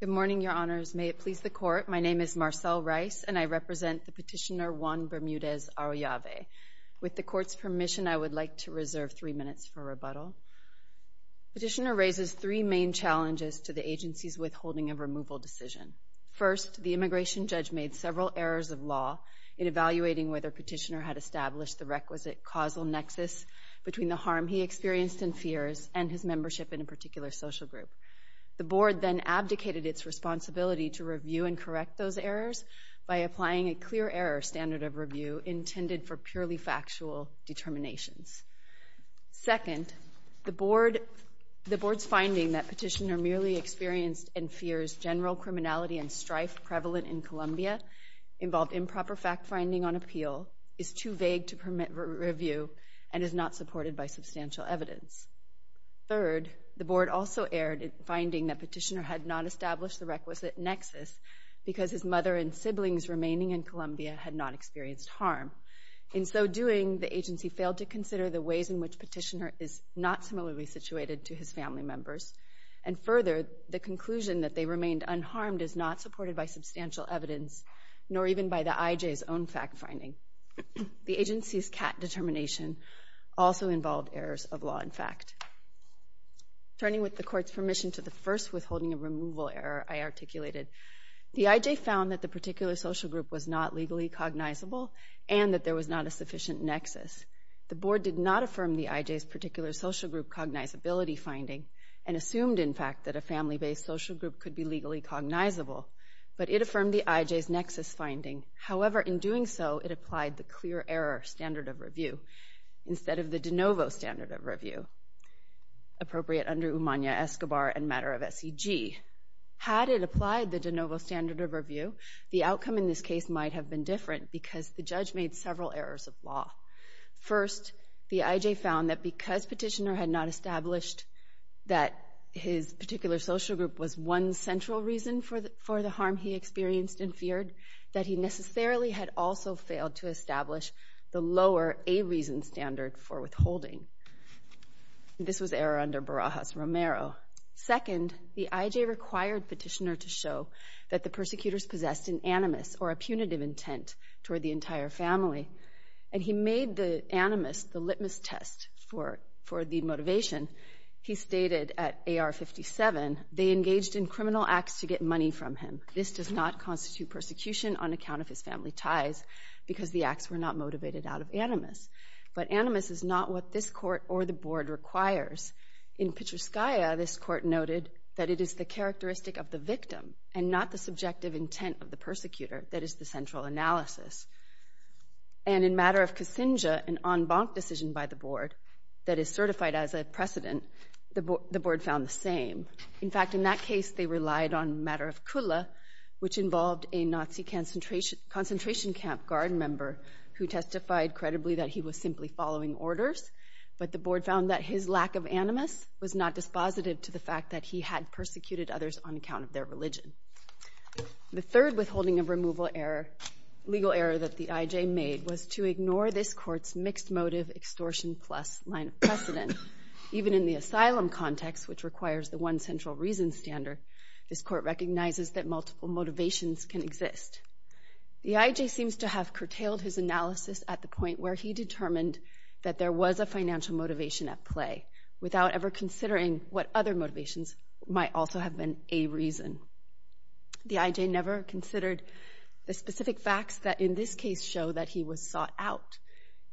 Good morning, Your Honors. May it please the Court, my name is Marcelle Rice and I represent the petitioner Juan Bermudez-Arroyave. With the Court's permission, I would like to reserve three minutes for rebuttal. Petitioner raises three main challenges to the agency's withholding of removal decision. First, the immigration judge made several errors of law in evaluating whether petitioner had established the requisite causal nexus between the harm he experienced and fears and his membership in a particular social group. The Board then abdicated its responsibility to review and correct those errors by applying a clear error standard of review intended for purely factual determinations. Second, the Board's finding that petitioner merely experienced and fears general criminality and strife prevalent in Colombia, involved improper fact-finding on appeal, is too vague to permit review, and is not supported by substantial evidence. Third, the Board also erred in finding that petitioner had not established the requisite nexus because his mother and siblings remaining in Colombia had not experienced harm. In so doing, the agency failed to consider the ways in which petitioner is not similarly situated to his family members. And further, the conclusion that they remained unharmed is not supported by substantial evidence, nor even by the IJ's own fact-finding. The agency's CAT determination also involved errors of law and fact. Turning with the Court's permission to the first withholding of removal error I articulated, the IJ found that the particular social group was not legally cognizable and that there was not a sufficient nexus. The Board did not affirm the IJ's particular social group cognizability finding and assumed, in fact, that a family-based social group could be legally cognizable, but it affirmed the IJ's nexus finding. However, in doing so, it applied the clear error standard of review instead of the de novo standard of review, appropriate under Umania, Escobar, and matter of SEG. Had it applied the de novo standard of review, the outcome in this case might have been different because the judge made several errors of law. First, the IJ found that because Petitioner had not established that his particular social group was one central reason for the harm he experienced and feared, that he necessarily had also failed to establish the lower a-reason standard for withholding. This was error under Barajas-Romero. Second, the IJ required Petitioner to show that the persecutors possessed an animus or a punitive intent toward the entire family, and he made the animus the litmus test for the motivation. He stated at AR 57, they engaged in criminal acts to get money from him. This does not constitute persecution on account of his family ties because the acts were not motivated out of animus. But animus is not what this Court or the Board requires. In Petruscaya, this Court noted that it is the characteristic of the victim and not the subjective intent of the persecutor that is the central analysis. And in Matter of Kasinga, an en banc decision by the Board that is certified as a precedent, the Board found the same. In fact, in that case, they relied on Matter of Kula, which involved a Nazi concentration camp guard member who testified credibly that he was simply following orders, but the Board found that his lack of animus was not dispositive to the fact that he had their religion. The third withholding of removal error, legal error that the IJ made, was to ignore this Court's mixed motive extortion plus line of precedent. Even in the asylum context, which requires the one central reason standard, this Court recognizes that multiple motivations can exist. The IJ seems to have curtailed his analysis at the point where he determined that there was a financial motivation at play, without ever considering what other motivations might also have been a reason. The IJ never considered the specific facts that in this case show that he was sought out.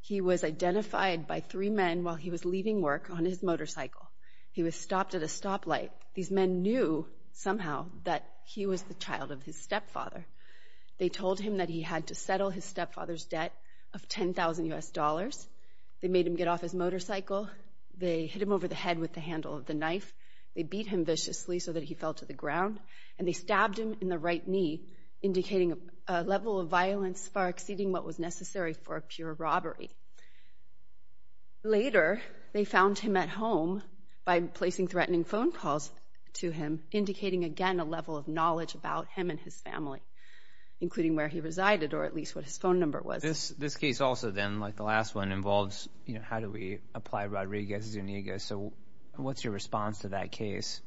He was identified by three men while he was leaving work on his motorcycle. He was stopped at a stoplight. These men knew somehow that he was the child of his stepfather. They told him that he had to settle his stepfather's debt of 10,000 U.S. dollars. They made him get off his motorcycle. They hit him over the head with the handle of the knife. They beat him viciously so that he fell to the ground, and they stabbed him in the right knee, indicating a level of violence far exceeding what was necessary for a pure robbery. Later, they found him at home by placing threatening phone calls to him, indicating again a level of knowledge about him and his family, including where he resided or at least what his phone number was. This case also then, like the last one, how do we apply Rodriguez-Zuniga? So what's your response to that case?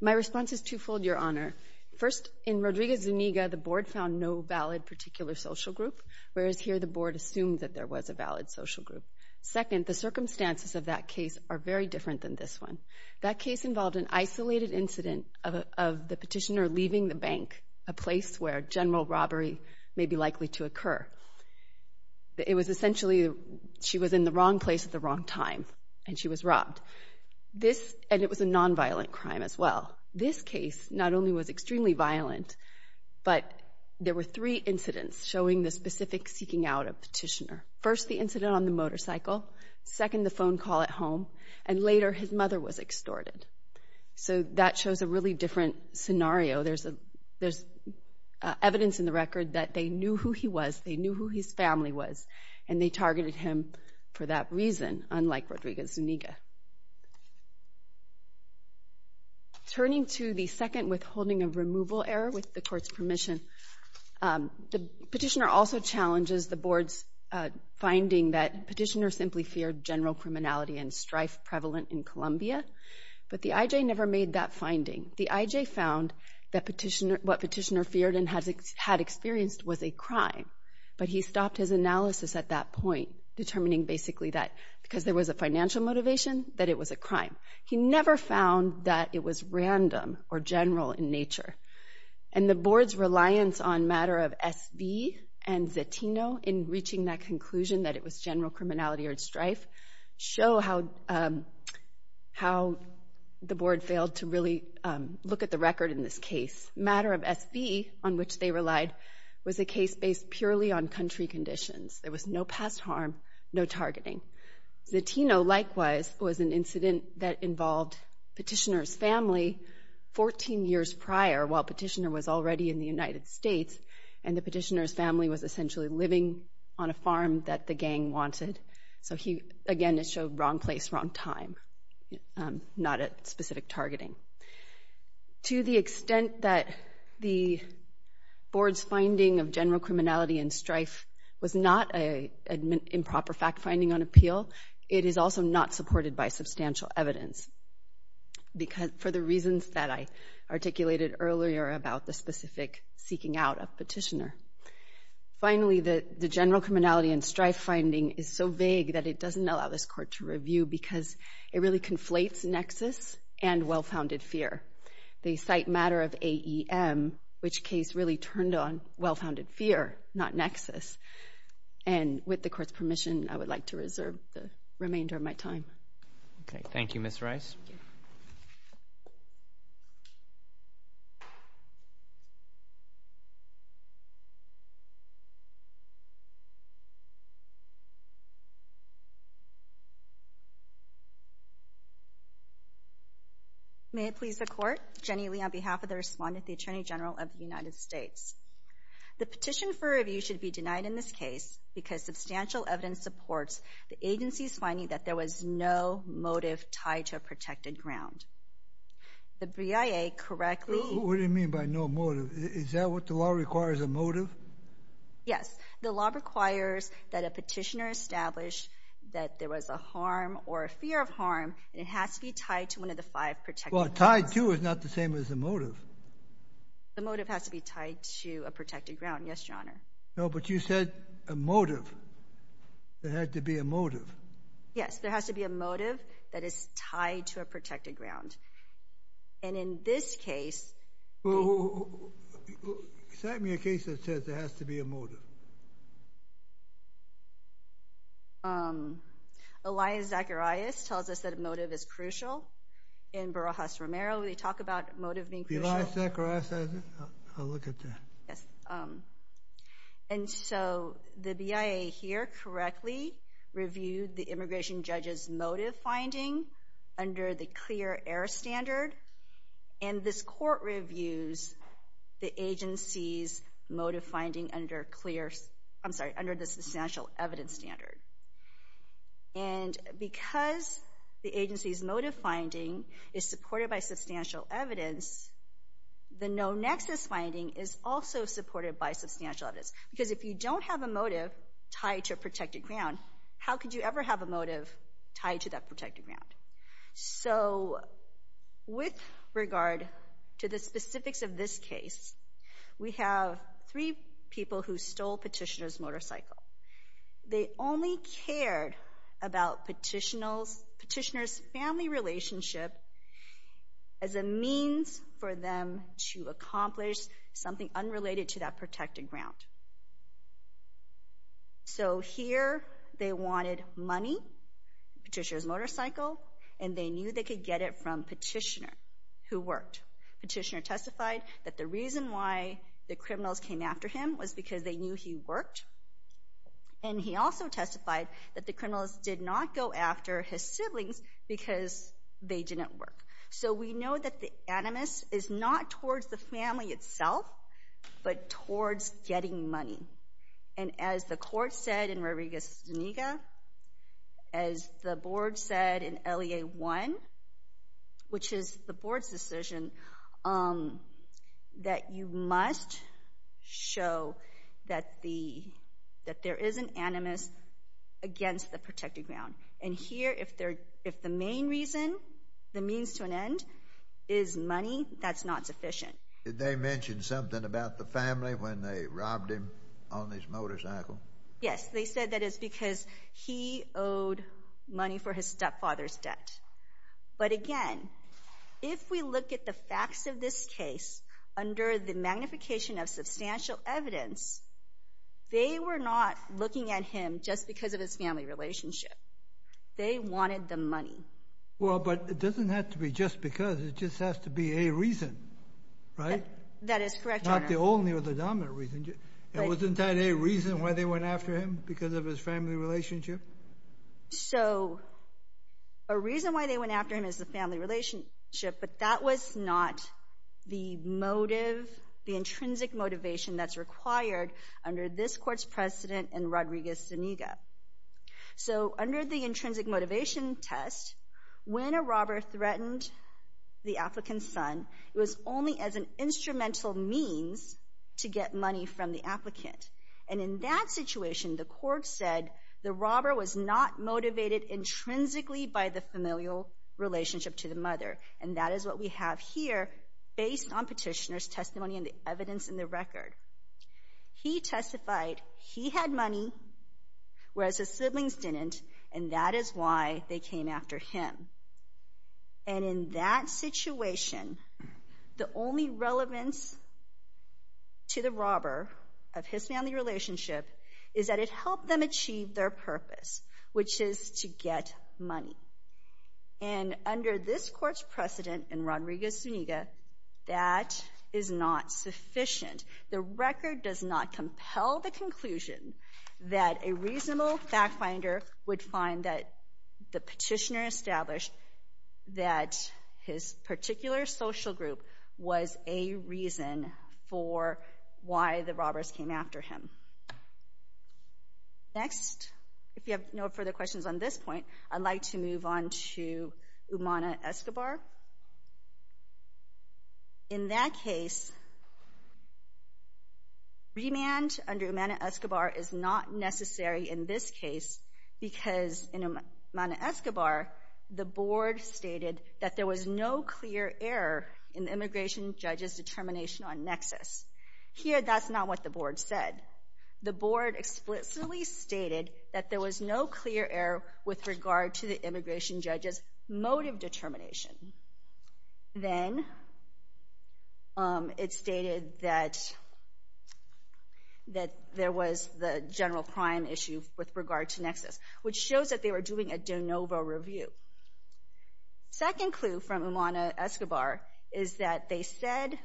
My response is twofold, Your Honor. First, in Rodriguez-Zuniga, the board found no valid particular social group, whereas here the board assumed that there was a valid social group. Second, the circumstances of that case are very different than this one. That case involved an isolated incident of the petitioner leaving the bank, a place where general robbery may be likely to occur. It was essentially, she was in the wrong place at the wrong time, and she was robbed. This, and it was a non-violent crime as well. This case not only was extremely violent, but there were three incidents showing the specific seeking out of petitioner. First, the incident on the motorcycle. Second, the phone call at home. And later, his mother was extorted. So that shows a really different scenario. There's evidence in the record that they knew who he was, they knew who his family was, and they targeted him for that reason, unlike Rodriguez-Zuniga. Turning to the second withholding of removal error with the court's permission, the petitioner also challenges the board's finding that petitioner simply feared general criminality and strife prevalent in Colombia. But the IJ never made that finding. The IJ found that petitioner, what petitioner feared and had experienced was a crime, but he stopped his analysis at that point, determining basically that because there was a financial motivation, that it was a crime. He never found that it was random or general in nature. And the board's reliance on matter of SV and Zetino in reaching that conclusion that it was general criminality and strife show how the board failed to really look at the record in this case. Matter of SV, on which they relied, was a case based purely on country conditions. There was no past harm, no targeting. Zetino, likewise, was an incident that involved petitioner's family 14 years prior, while petitioner was already in the United States, and the petitioner's family was essentially living on a farm that the gang wanted. So he, again, showed wrong place, wrong time, not at specific targeting. To the extent that the board's finding of general criminality and strife was not an improper fact finding on appeal, it is also not supported by substantial evidence for the reasons that I articulated earlier about the specific seeking out of petitioner. Finally, the general criminality and strife finding is so vague that it doesn't allow this court to review because it really conflates nexus and well-founded fear. They cite matter of AEM, which case really turned on well-founded fear, not nexus. And with the court's permission, I would like to reserve the remainder of my time. Okay. Thank you, Ms. Rice. May it please the court. Jenny Lee on behalf of the respondent, the Attorney General of the United States. The petition for review should be denied in this case because substantial evidence supports the agency's finding that there was no motive tied to a protected ground. The BIA correctly... What do you mean by no motive? Is that what the law requires, a motive? Yes. The law requires that a petitioner establish that there was a harm or a fear of harm, and it has to be tied to one of the five protected grounds. Well, tied to is not the same as the motive. The motive has to be tied to a protected ground. Yes, Your Honor. No, but you said a motive. There had to be a motive. Yes, there has to be a motive that is tied to a protected ground. And in this case... Well, cite me a case that says there has to be a motive. Elias Zacharias tells us that a motive is crucial. In Barajas-Romero, they talk about motive being crucial. Elias Zacharias says it? I'll look at that. Yes. And so the BIA here correctly reviewed the immigration judge's motive finding under the clear error standard, and this court reviews the agency's motive finding under clear... I'm sorry, under the substantial evidence standard. And because the agency's motive finding is supported by substantial evidence, the no-nexus finding is also supported by substantial evidence. Because if you don't have a motive tied to a protected ground, how could you ever have a motive tied to that protected ground? So with regard to the specifics of this case, we have three people who stole petitioner's motorcycle. They only cared about petitioner's family relationship as a means for them to accomplish something unrelated to that protected ground. So here they wanted money, petitioner's motorcycle, and they knew they could get it from petitioner who worked. Petitioner testified that the reason why the criminals came after him was because they knew he worked. And he also testified that the criminals did not go after his siblings because they didn't work. So we know that the animus is not towards the family itself, but towards getting money. And as the court said in Rodriguez-Zuniga, as the board said in LEA 1, which is the board's decision, that you must show that there is an animus against the protected ground. And here, if the main reason, the means to an end, is money, that's not sufficient. Did they mention something about the family when they robbed him on his motorcycle? Yes, they said that it's because he owed money for his stepfather's debt. But again, if we look at the facts of this case under the magnification of substantial evidence, they were not looking at him just because of his family relationship. They wanted the money. Well, but it doesn't have to be just because. It just has to be a reason, right? That is correct, Your Honor. Not the only or the dominant reason. And wasn't that a reason why they went after him? Because of his family relationship? So a reason why they went after him is the family relationship, but that was not the motive, the intrinsic motivation that's required under this court's precedent in Rodriguez-Zuniga. So under the intrinsic motivation test, when a robber threatened the applicant's son, it was only as an instrumental means to get money from the applicant. And in that situation, the court said the robber was not motivated intrinsically by the familial relationship to the mother. And that is what we have here, based on petitioner's testimony and the evidence in the record. He testified he had money, whereas his siblings didn't, and that is why they came after him. And in that situation, the only relevance to the robber of his family relationship is that it helped them achieve their purpose, which is to get money. And under this court's precedent in Rodriguez-Zuniga, that is not sufficient. The record does not compel the established that his particular social group was a reason for why the robbers came after him. Next, if you have no further questions on this point, I'd like to move on to Umana-Escobar. In that case, remand under Umana-Escobar is not necessary in this case, because in Umana-Escobar, the board stated that there was no clear error in the immigration judge's determination on nexus. Here, that's not what the board said. The board explicitly stated that there was no clear error with regard to the immigration judge's motive determination. Then it stated that there was the general crime issue with regard to nexus, which shows that they were doing a de novo review. Second clue from Umana-Escobar is that they said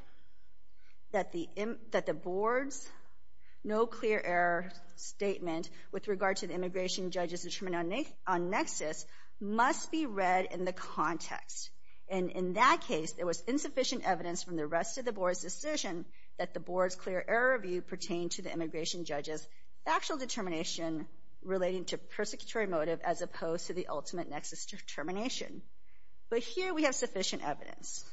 that the board's no clear error statement with regard to the immigration judge's determination on nexus must be read in the context. And in that case, there was insufficient evidence from the rest of the board's decision that the board's clear error review pertained to the immigration judge's factual determination relating to persecutory motive as opposed to the ultimate nexus determination. But here, we have sufficient evidence.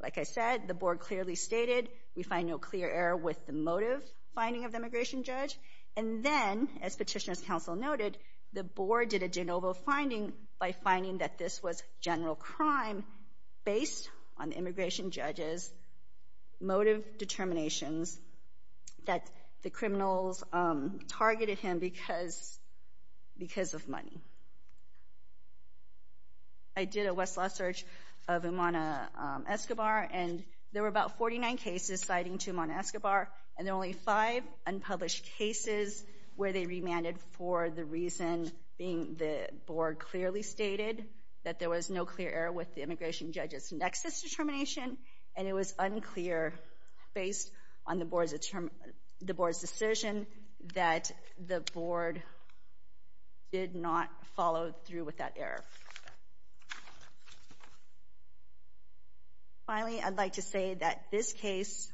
Like I said, the board clearly stated we find no clear error with the motive finding of the immigration judge. And then, as Petitioner's Counsel noted, the board did a de novo finding by finding that this was general crime based on the immigration judge's motive determinations that the criminals targeted him because of money. I did a Westlaw search of Umana-Escobar, and there were about 49 cases citing to Umana-Escobar, and there were only five unpublished cases where they remanded for the reason being the board stated that there was no clear error with the immigration judge's nexus determination, and it was unclear based on the board's decision that the board did not follow through with that error. Finally, I'd like to say that this case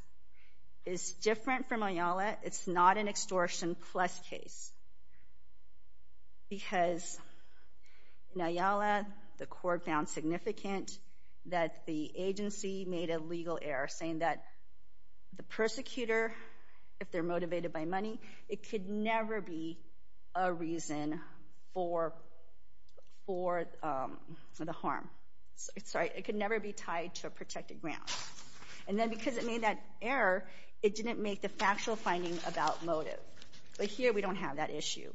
is different from Ayala. It's not an extortion plus case because in Ayala, the court found significant that the agency made a legal error saying that the persecutor, if they're motivated by money, it could never be a reason for the harm. Sorry, it could never be tied to a protected ground. And then because it made that error, it didn't make the factual finding about motive. But here, we don't have that issue.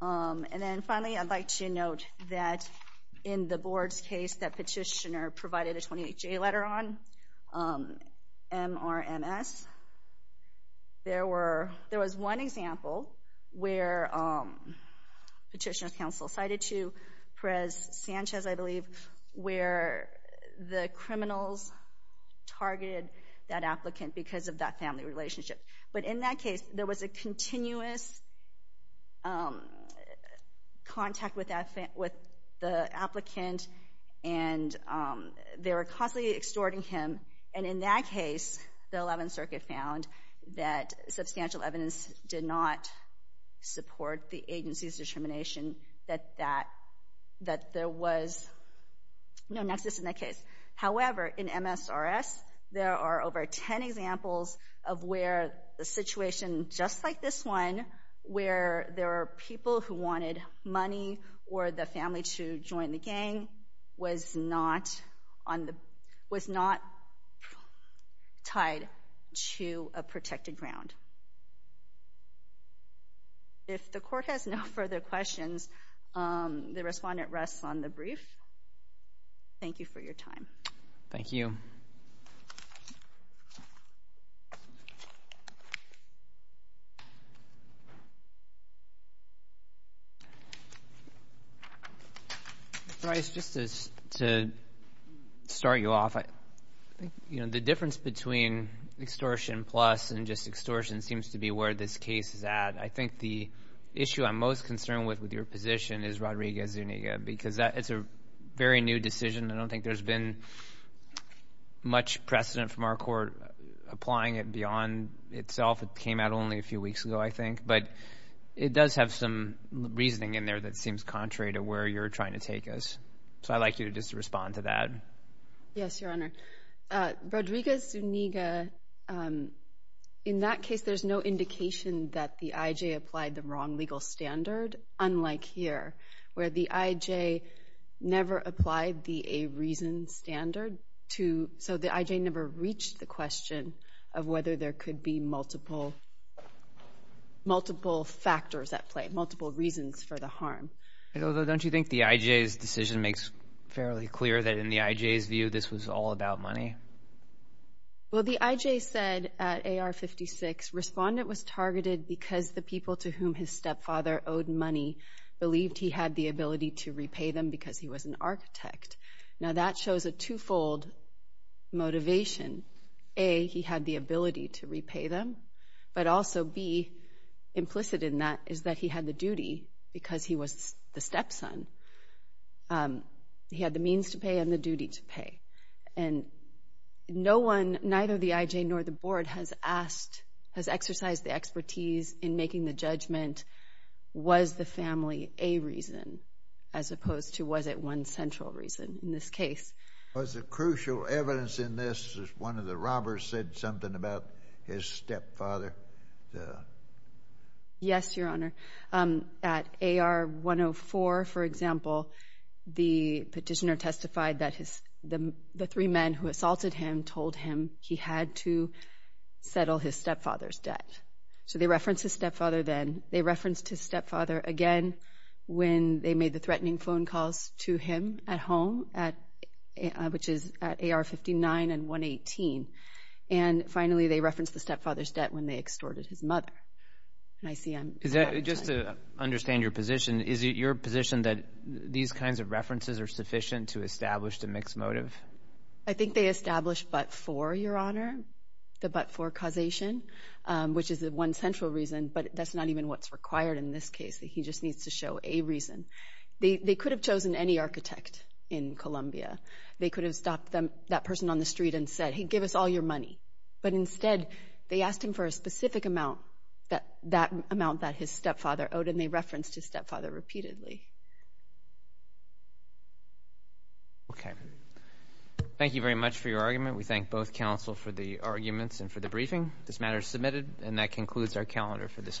And then finally, I'd like to note that in the board's case that petitioner provided a 28-J letter on, MRMS, there was one example where petitioner's counsel cited to Perez-Sanchez, I believe, where the criminals targeted that applicant because of that family relationship. But in that case, there was a continuous contact with the applicant, and they were constantly extorting him. And in that case, the Eleventh Circuit found that substantial evidence did not support the case. However, in MSRS, there are over 10 examples of where the situation just like this one, where there are people who wanted money or the family to join the gang, was not tied to a protected ground. If the court has no further questions, the respondent rests on the brief. Thank you for your time. Thank you. Bryce, just to start you off, I think the difference between extortion plus and just extortion seems to be where this case is at. I think the issue I'm most concerned with, with your position, is Rodriguez-Zuniga, because it's a very new decision. I don't think there's been much precedent from our court applying it beyond itself. It came out only a few weeks ago, I think. But it does have some reasoning in there that seems contrary to where you're trying to take us. So I'd like you to just respond to that. Yes, Your Honor. Rodriguez-Zuniga, in that case, there's no indication that the I.J. applied the wrong legal standard, unlike here, where the I.J. never applied the a reason standard. So the I.J. never reached the question of whether there could be multiple factors at play, multiple reasons for the harm. Don't you think the I.J.'s decision makes fairly clear that in the I.J.'s view, this was all about money? Well, the I.J. said at A.R. 56, respondent was targeted because the people to whom his stepfather owed money believed he had the ability to repay them because he was an architect. Now that shows a twofold motivation. A, he had the ability to repay them, but also B, implicit in that, is that he had the duty because he was the stepson. He had the means to pay and the duty to pay. And no one, neither the I.J. nor the board has asked, has exercised the expertise in making the judgment, was the family a reason, as opposed to was it one central reason in this case. Was the crucial evidence in this that one of the robbers said something about his stepfather? Yes, Your Honor. At A.R. 104, for example, the petitioner testified that the three men who assaulted him told him he had to settle his stepfather's debt. So they referenced his stepfather then. They referenced his stepfather again when they made the threatening phone calls to him at home, which is at A.R. 59 and 118. And finally, they referenced the stepfather's debt when they extorted his mother. And I see I'm... Just to understand your position, is it your position that these kinds of references are sufficient to establish the mixed motive? I think they established but for, Your Honor, the but for causation, which is the one central reason, but that's not even what's required in this case. He just needs to show a reason. They could have chosen any architect in Columbia. They could have stopped that person on the street and said, give us all your money. But instead, they asked him for a specific amount, that amount that his stepfather owed, and they referenced his stepfather repeatedly. Okay. Thank you very much for your argument. We thank both counsel for the arguments and for the briefing. This matter is submitted, and that concludes our calendar for this morning.